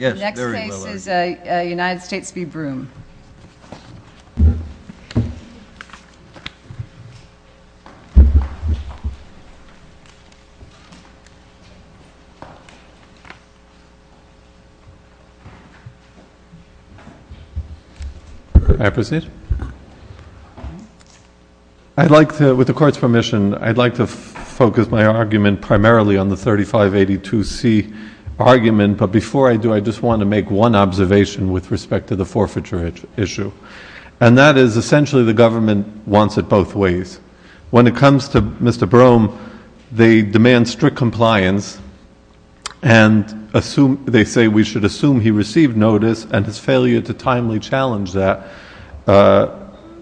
I'd like to, with the court's permission, I'd like to focus my argument primarily on the 3582C argument, but before I do, I just want to make one observation with respect to the forfeiture issue, and that is essentially the government wants it both ways. When it comes to Mr. Brome, they demand strict compliance, and they say we should assume he received notice, and his failure to timely challenge that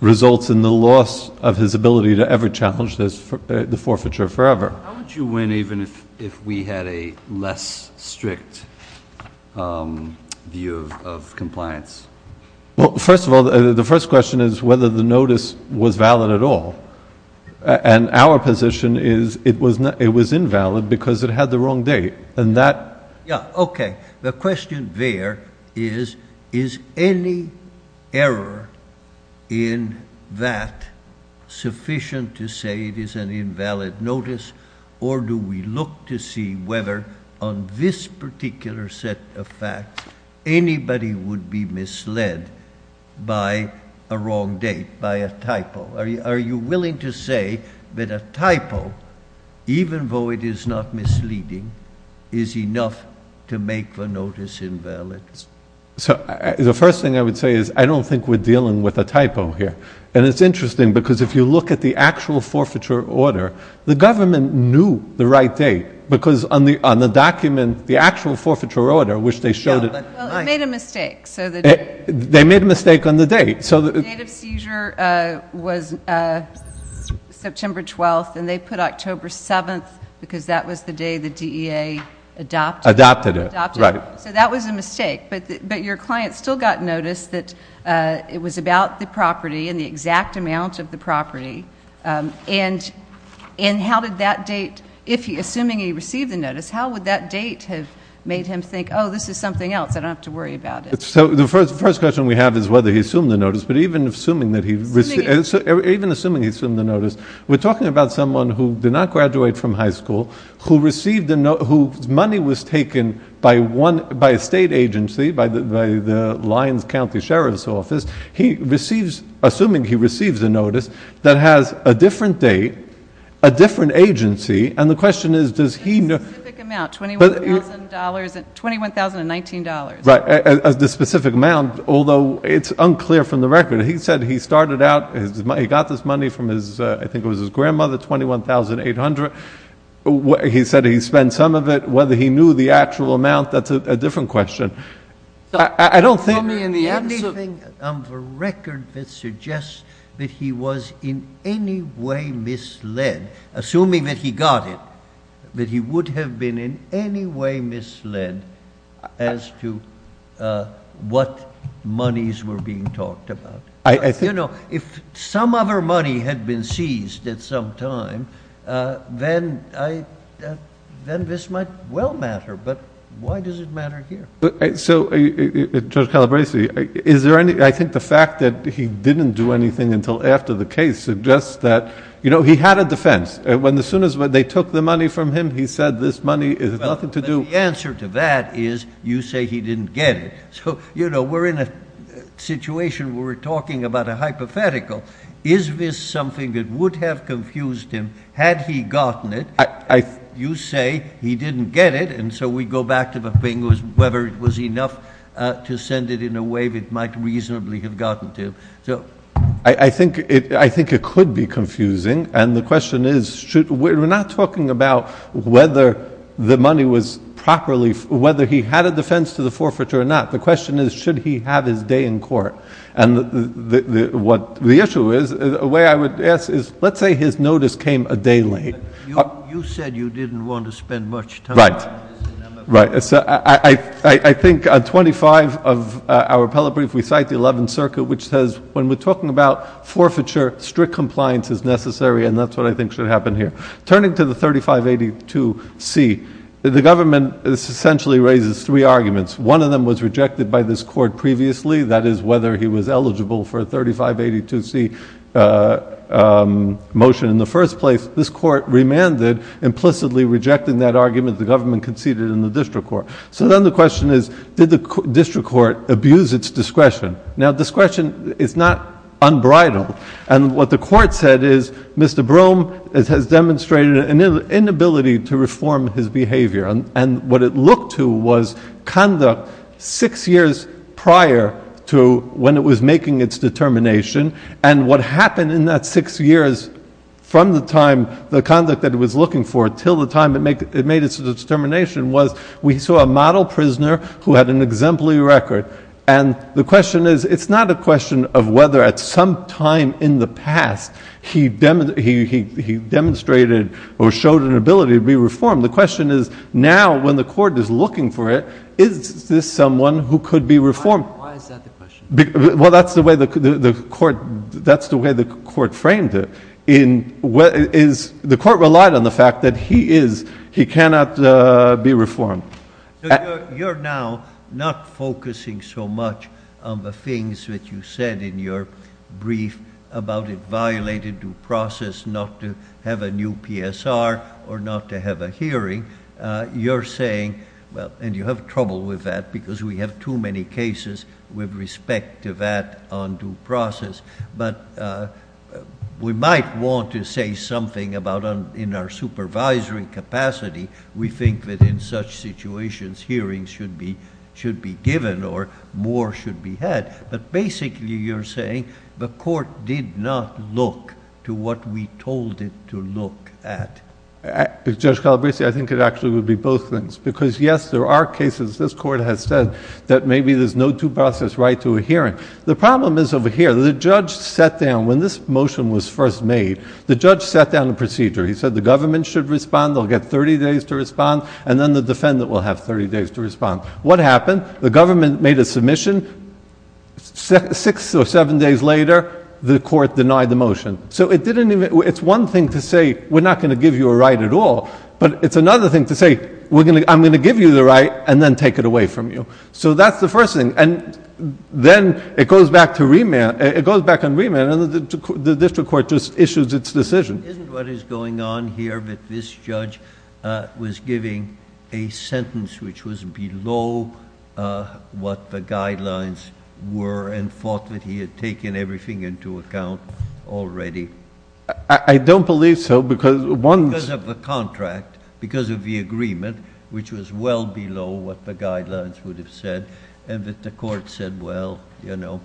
results in the loss of his ability to ever challenge the forfeiture forever. How would you win even if we had a less strict view of compliance? Well, first of all, the first question is whether the notice was valid at all, and our position is it was invalid because it had the wrong date, and that The question there is, is any error in that sufficient to say it is an invalid notice, or do we look to see whether on this particular set of facts anybody would be misled by a wrong date, by a typo? Are you willing to say that a typo, even though it is not misleading, is enough to make the notice invalid? So the first thing I would say is I don't think we're dealing with a typo here, and it's interesting because if you look at the actual forfeiture order, the government knew the right date because on the document, the actual forfeiture order, which they showed Well, it made a mistake. They made a mistake on the date. The date of seizure was September 12th, and they put October 7th because that was the day the DEA adopted it. So that was a mistake, but your client still got notice that it was about the property and the exact amount of the property, and how did that date, if he, assuming he received the notice, how would that date have made him think, oh, this is something else, I don't have to worry about it. So the first question we have is whether he assumed the notice, but even assuming he assumed the notice, we're talking about someone who did not graduate from high school, whose money was taken by a state agency, by the Lyons County Sheriff's Office, he receives, assuming he receives a notice, that has a different date, a different agency, and the question Although it's unclear from the record, he said he started out, he got this money from his, I think it was his grandmother, $21,800. He said he spent some of it. Whether he knew the actual amount, that's a different question. I don't think Anything on the record that suggests that he was in any way misled, assuming that he got it, that he would have been in any way misled as to what monies were being talked about. I think You know, if some other money had been seized at some time, then this might well matter, but why does it matter here? So Judge Calabresi, is there any, I think the fact that he didn't do anything until after the case suggests that, you know, he had a defense. When as soon as they took the money from him, he said this money has nothing to do Well, the answer to that is, you say he didn't get it. So, you know, we're in a situation where we're talking about a hypothetical. Is this something that would have confused him, had he gotten it? You say he didn't get it, and so we go back to the thing, whether it was enough to send it in a way that it might reasonably have gotten to him. I think it could be confusing, and the question is, we're not talking about whether the money was properly, whether he had a defense to the forfeiture or not. The question is, should he have his day in court? And what the issue is, a way I would ask is, let's say his notice came a day late. You said you didn't want to spend much time Right, right. I think on 25 of our appellate brief, we cite the 11th circuit, which says when we're talking about forfeiture, strict compliance is necessary, and that's what I think should happen here. Turning to the 3582C, the government essentially raises three arguments. One of them was rejected by this court previously, that is whether he was eligible for a 3582C motion in the first place. This court remanded, implicitly rejecting that argument. The government conceded in the district court. So then the question is, did the district court abuse its discretion? Now discretion is not unbridled, and what the court said is, Mr. Brougham has demonstrated an inability to reform his behavior, and what it looked to was conduct six years prior to when it was making its determination, and what happened in that six years from the time that it was looking for until the time it made its determination was we saw a model prisoner who had an exemplary record, and the question is, it's not a question of whether at some time in the past he demonstrated or showed an ability to be reformed. The question is, now when the court is looking for it, is this someone who could be reformed? Why is that the question? Well, that's the way the court framed it. The court relied on the fact that he is, he cannot be reformed. So you're now not focusing so much on the things that you said in your brief about it violated due process not to have a new PSR or not to have a hearing. You're saying, well, and you have trouble with that because we have too many cases with respect to that undue process, but we might want to say something about in our supervisory capacity, we think that in such situations, hearings should be given or more should be had. But basically, you're saying the court did not look to what we told it to look at. Judge Calabresi, I think it actually would be both things, because yes, there are cases this court has said that maybe there's no due process right to a hearing. The problem is over here, the judge sat down, when this motion was first made, the judge sat down the procedure. He said the government should respond, they'll get 30 days to respond, and then the defendant will have 30 days to respond. What happened? The government made a submission, six or seven days later, the court denied the motion. So it didn't even, it's one thing to say, we're not going to give you a right at all, but it's another thing to say, I'm going to give you the right, and then take it away from you. So that's the first thing. And then it goes back to remand, it goes back on remand, and the district court just issues its decision. Isn't what is going on here that this judge was giving a sentence which was below what the guidelines were and thought that he had taken everything into account already? I don't believe so, because one's Because of the contract, because of the agreement, which was well below what the guidelines would have said, and that the court said, well, you know,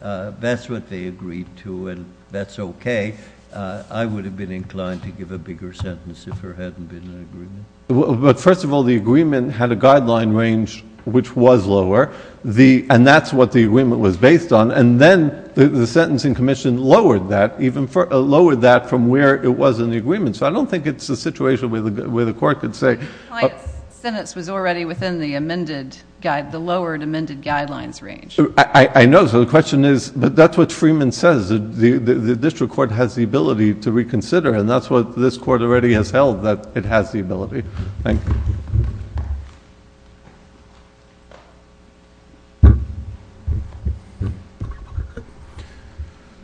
that's what they agreed to, and that's okay. I would have been inclined to give a bigger sentence if there hadn't been an agreement. But first of all, the agreement had a guideline range, which was lower, and that's what the agreement was based on, and then the Sentencing Commission lowered that from where it was in the agreement. So I don't think it's a situation where the court could say The client's sentence was already within the amended, the lowered amended guidelines range. I know. So the question is, but that's what Freeman says. The district court has the ability to reconsider, and that's what this court already has held, that it has the ability.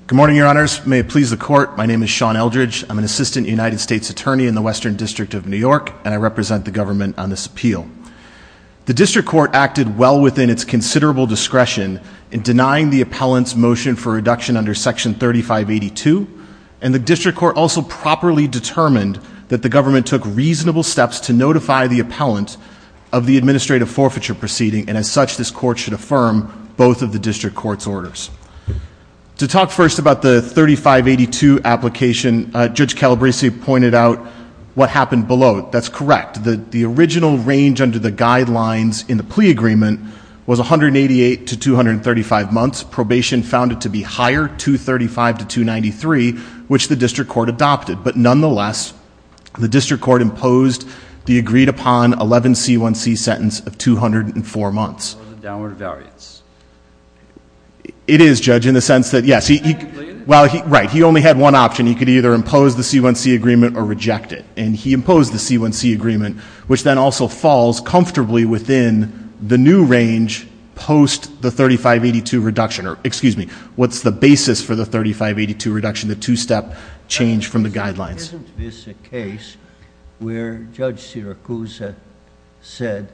Good morning, your honors. May it please the court. My name is Sean Eldridge. I'm an assistant United States attorney in the Western District of New York, and I represent the government on this appeal. The district court acted well within its considerable discretion in denying the appellant's motion for reduction under Section 3582, and the district court also properly determined that the government took reasonable steps to notify the appellant of the administrative forfeiture proceeding, and as such, this court should affirm both of the district court's orders. To talk first about the 3582 application, Judge Calabresi pointed out what happened below it. That's correct. The original range under the guidelines in the plea agreement was 188 to 235 months. Probation found it to be higher, 235 to 293, which the district court adopted. But nonetheless, the district court imposed the agreed upon 11C1C sentence of 204 months. What was the downward variance? It is, Judge, in the sense that, yes, well, right, he only had one option. He could either impose the C1C agreement or reject it, and he imposed the C1C agreement, which then also falls comfortably within the new range post the 3582 reduction, or excuse me, what's the basis for the 3582 reduction, the two-step change from the guidelines. Isn't this a case where Judge Siracusa said,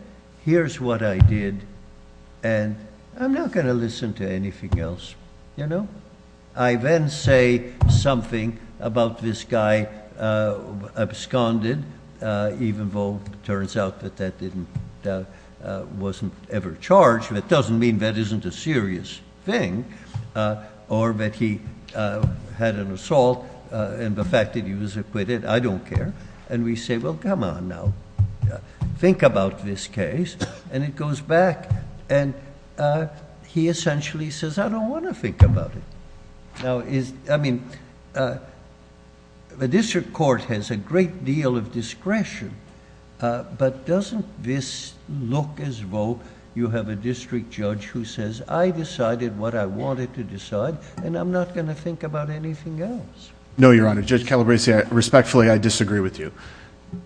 here's what I did, and I'm not going to listen to anything else, you know? I then say something about this guy absconded, even though it turns out that that wasn't ever charged. That doesn't mean that isn't a serious thing, or that he had an assault, and the fact that he was acquitted, I don't care, and we say, well, come on now, think about this case, and it goes back, and he essentially says, I don't want to think about it. Now, I mean, the district court has a great deal of discretion, but doesn't this look as though you have a district judge who says, I decided what I wanted to decide, and I'm not going to think about anything else? No, Your Honor. Judge Calabresi, respectfully, I disagree with you.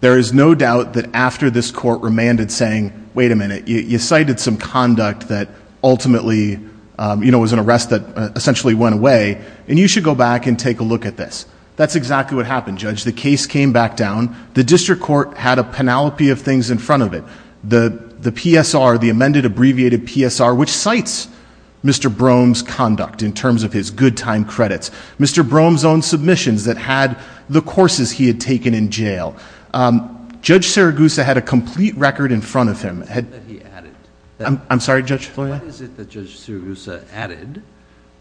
There is no doubt that after this court remanded saying, wait a minute, you cited some conduct that ultimately, you know, was an arrest that essentially went away, and you should go back and take a look at this. That's exactly what happened, Judge. The case came back down. The district court had a panoply of things in front of it. The PSR, the amended abbreviated PSR, which cites Mr. Brougham's conduct in terms of his good time credits. Mr. Brougham's own submissions that had the courses he had taken in jail. Judge Saragusa had a complete record in front of him. That he added. I'm sorry, Judge? What is it that Judge Saragusa added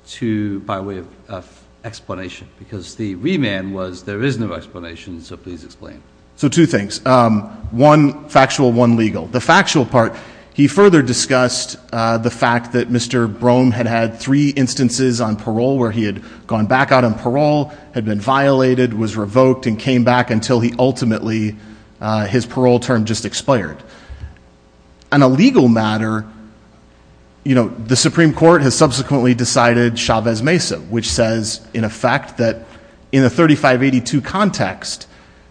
to, by way of explanation? Because the remand was, there is no explanation, so please explain. So two things. One factual, one legal. The factual part, he further discussed the fact that Mr. Brougham had had three instances on parole where he had gone back out on parole, had been violated, was revoked, and came back until he ultimately, his parole term just expired. On a legal matter, you know, the Supreme Court has subsequently decided Chavez Mesa, which says in effect that in a 3582 context,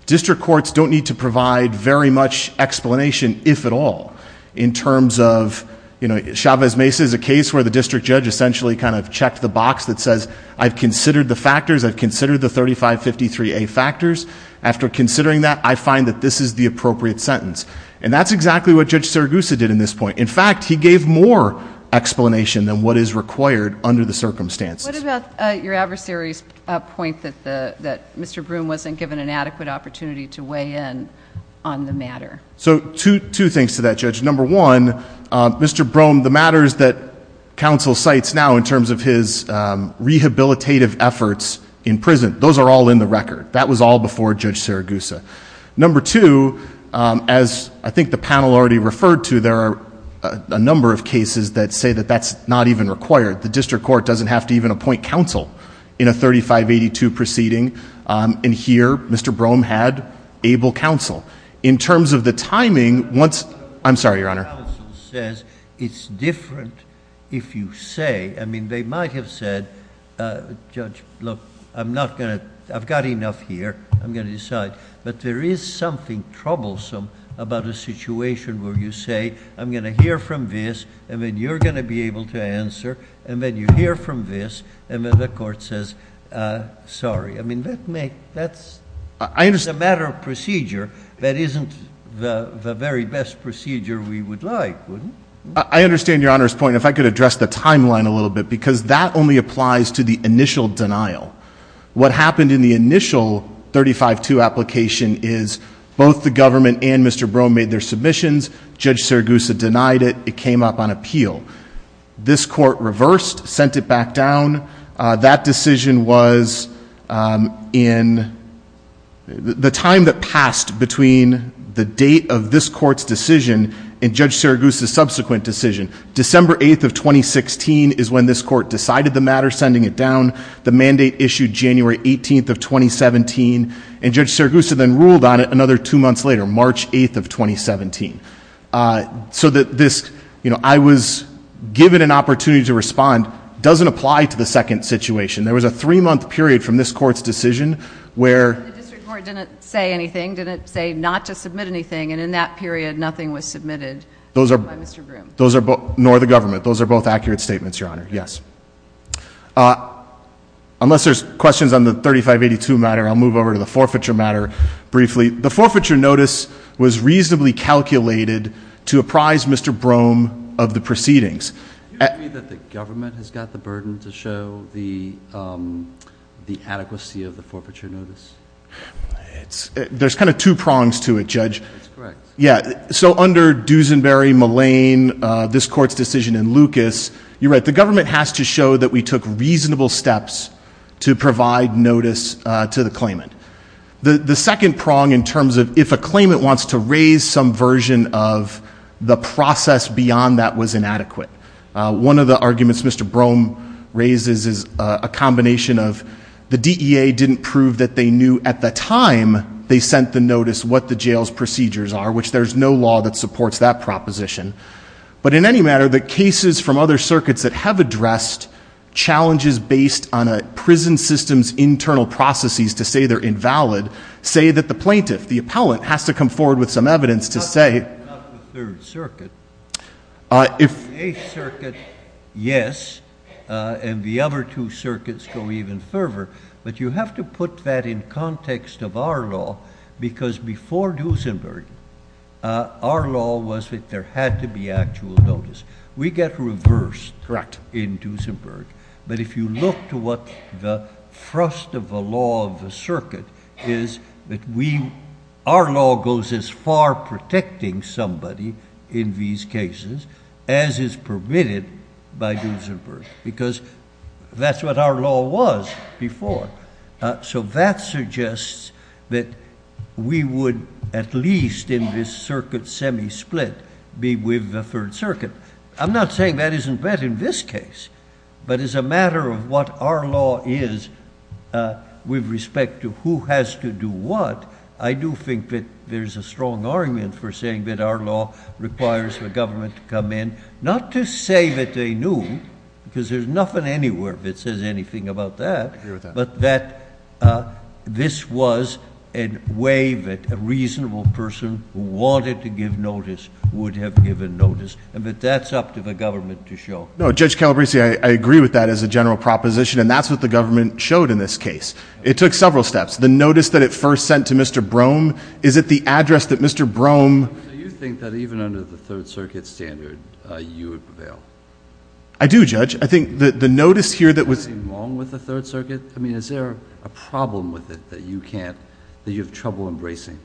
district courts don't need to provide very much explanation, if at all, in terms of, you know, Chavez Mesa is a case where the district judge essentially kind of checked the box that says, I've considered the factors, I've considered the 3553A factors. After considering that, I find that this is the appropriate sentence. And that's exactly what Judge Saragusa did in this point. In fact, he gave more explanation than what is required under the circumstances. What about your adversary's point that Mr. Brougham wasn't given an adequate opportunity to weigh in on the matter? So two things to that, Judge. Number one, Mr. Brougham, the matters that counsel cites now in terms of his rehabilitative efforts in prison, those are all in the record. That was all before Judge Saragusa. Number two, as I think the panel already referred to, there are a number of cases that say that that's not even required. The district court doesn't have to even appoint counsel in a 3582 proceeding. And here, Mr. Brougham had able counsel. In terms of the timing, once... I'm sorry, Your Honor. Counsel says it's different if you say, I mean, they might have said, Judge, look, I'm not going to... I've got enough here. I'm going to decide. But there is something troublesome about a situation where you say, I'm going to hear from this, and then you're going to be able to answer. And then you hear from this, and then the court says, sorry. I mean, that's a matter of procedure that isn't the very best procedure we would like, wouldn't it? I understand Your Honor's point. If I could address the timeline a little bit, because that only applies to the initial denial. What happened in the initial 3582 application is both the government and Mr. Brougham made their submissions. Judge Saragusa denied it. It came up on appeal. This court reversed, sent it back down. That decision was in the time that passed between the date of this court's decision and Judge Saragusa's subsequent decision. December 8th of 2016 is when this court decided the matter, sending it down. The mandate issued January 18th of 2017. And Judge Saragusa then ruled on it another two months later, March 8th of 2017. So that this, you know, I was given an opportunity to respond doesn't apply to the second situation. There was a three-month period from this court's decision where- The district court didn't say anything, didn't say not to submit anything, and in that period nothing was submitted by Mr. Brougham. Those are both, nor the government. Those are both accurate statements, Your Honor, yes. Unless there's questions on the 3582 matter, I'll move over to the forfeiture matter briefly. The forfeiture notice was reasonably calculated to apprise Mr. Brougham of the proceedings. Do you agree that the government has got the burden to show the adequacy of the forfeiture notice? There's kind of two prongs to it, Judge. That's correct. Yeah, so under Dusenberry, Mullane, this court's decision, and Lucas, you're right. The government has to show that we took reasonable steps to provide notice to the claimant. The second prong in terms of if a claimant wants to raise some version of the process beyond that was inadequate. One of the arguments Mr. Brougham raises is a combination of the DEA didn't prove that they knew at the time they sent the notice what the jail's procedures are, which there's no law that supports that proposition. But in any matter, the cases from other circuits that have addressed challenges based on a prison system's procedure invalid say that the plaintiff, the appellant, has to come forward with some evidence to say- Not the third circuit. The eighth circuit, yes, and the other two circuits go even further. But you have to put that in context of our law because before Dusenberry, our law was that there had to be actual notice. We get reversed in Dusenberg. But if you look to what the thrust of the law of the circuit is that we, our law goes as far protecting somebody in these cases as is permitted by Dusenberg because that's what our law was before. So that suggests that we would at least in this circuit semi-split be with the third circuit. I'm not saying that isn't bad in this case, but as a matter of what our law is with respect to who has to do what, I do think that there's a strong argument for saying that our law requires the government to come in. Not to say that they knew, because there's nothing anywhere that says anything about that, but that this was a way that a reasonable person who wanted to give notice would have given notice. But that's up to the government to show. No, Judge Calabresi, I agree with that as a general proposition, and that's what the government showed in this case. It took several steps. The notice that it first sent to Mr. Brougham, is it the address that Mr. Brougham- Do you think that even under the third circuit standard, you would prevail? I do, Judge. I think that the notice here that was- Is there something wrong with the third circuit? I mean, is there a problem with it that you can't, that you have trouble embracing?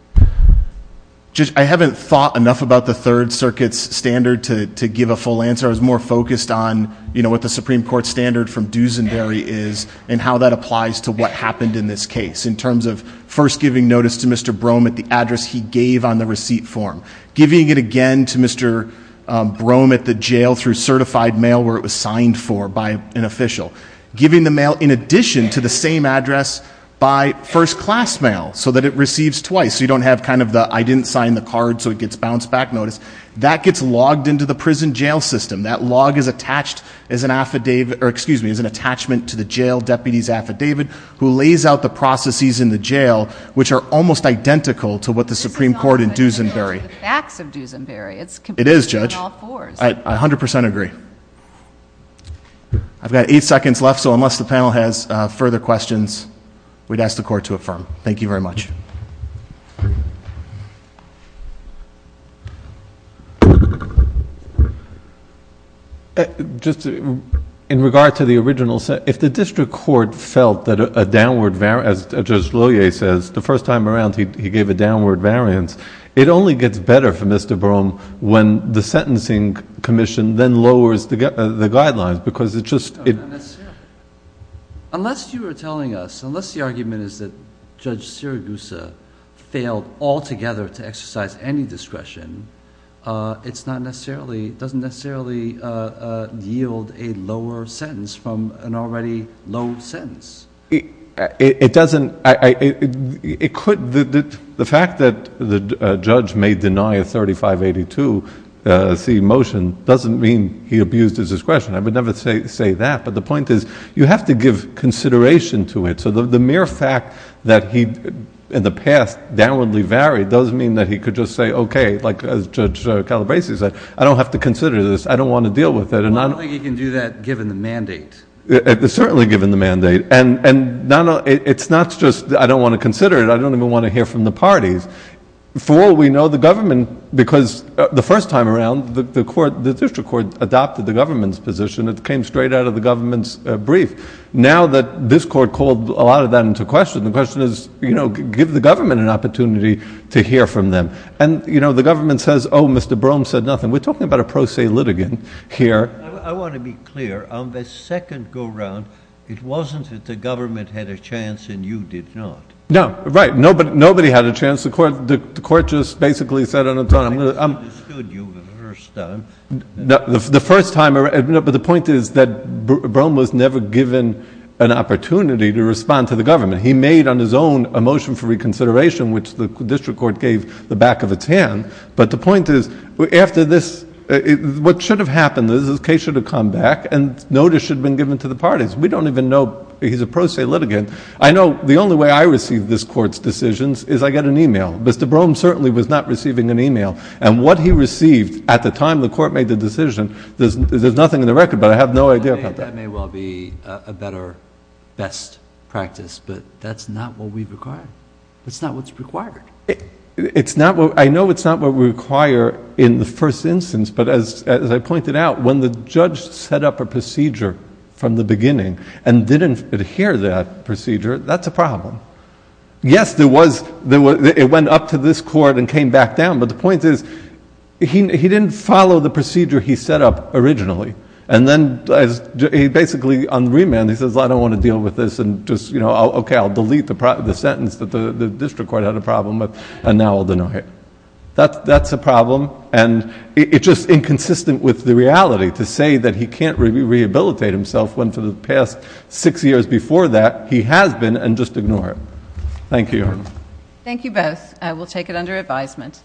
I haven't thought enough about the third circuit's standard to give a full answer. I was more focused on what the Supreme Court standard from Duesenberry is, and how that applies to what happened in this case. In terms of first giving notice to Mr. Brougham at the address he gave on the receipt form. Giving it again to Mr. Brougham at the jail through certified mail where it was signed for by an official. Giving the mail in addition to the same address by first class mail, so that it receives twice. So you don't have kind of the, I didn't sign the card, so it gets bounced back notice. That gets logged into the prison jail system. That log is attached as an affidavit, or excuse me, as an attachment to the jail deputy's affidavit. Who lays out the processes in the jail, which are almost identical to what the Supreme Court in Duesenberry. It's the facts of Duesenberry, it's completely on all fours. It is, Judge. I 100% agree. I've got eight seconds left, so unless the panel has further questions, we'd ask the court to affirm. Thank you very much. Just in regard to the original set, if the district court felt that a downward, as Judge Lohier says, the first time around he gave a downward variance. It only gets better for Mr. Brougham when the sentencing commission then lowers the guidelines, because it just- Unless you were telling us, unless the argument is that Judge Sirigusa failed altogether to exercise any discretion, it doesn't necessarily yield a lower sentence from an already low sentence. It doesn't, it could, the fact that the judge may deny a 3582C motion doesn't mean he abused his discretion. I would never say that, but the point is you have to give consideration to it. So the mere fact that he, in the past, downwardly varied does mean that he could just say, okay, like Judge Calabresi said, I don't have to consider this. I don't want to deal with it. Well, I don't think he can do that given the mandate. It's certainly given the mandate, and it's not just I don't want to consider it, I don't even want to hear from the parties. For all we know, the government, because the first time around, the district court adopted the government's position. It came straight out of the government's brief. Now that this court called a lot of that into question, the question is, give the government an opportunity to hear from them. And the government says, Mr. Brougham said nothing. We're talking about a pro se litigant here. I want to be clear. On the second go around, it wasn't that the government had a chance and you did not. No, right, nobody had a chance. The court just basically said on its own, I'm going to- I understood you the first time. The first time around, but the point is that Brougham was never given an opportunity to respond to the government. He made on his own a motion for reconsideration, which the district court gave the back of its hand. But the point is, after this, what should have happened is this case should have come back and notice should have been given to the parties. We don't even know he's a pro se litigant. I know the only way I receive this court's decisions is I get an email. Mr. Brougham certainly was not receiving an email. And what he received at the time the court made the decision, there's nothing in the record, but I have no idea about that. That may well be a better, best practice, but that's not what we require. That's not what's required. It's not what- I know it's not what we require in the first instance, but as I pointed out, when the judge set up a procedure from the beginning and didn't adhere to that procedure, that's a problem. Yes, there was- it went up to this court and came back down. But the point is, he didn't follow the procedure he set up originally. And then he basically, on remand, he says, I don't want to deal with this. And just, okay, I'll delete the sentence that the district court had a problem with, and now I'll deny it. That's a problem, and it's just inconsistent with the reality to say that he can't rehabilitate himself, when for the past six years before that, he has been, and just ignore it. Thank you. Thank you both. I will take it under advisement.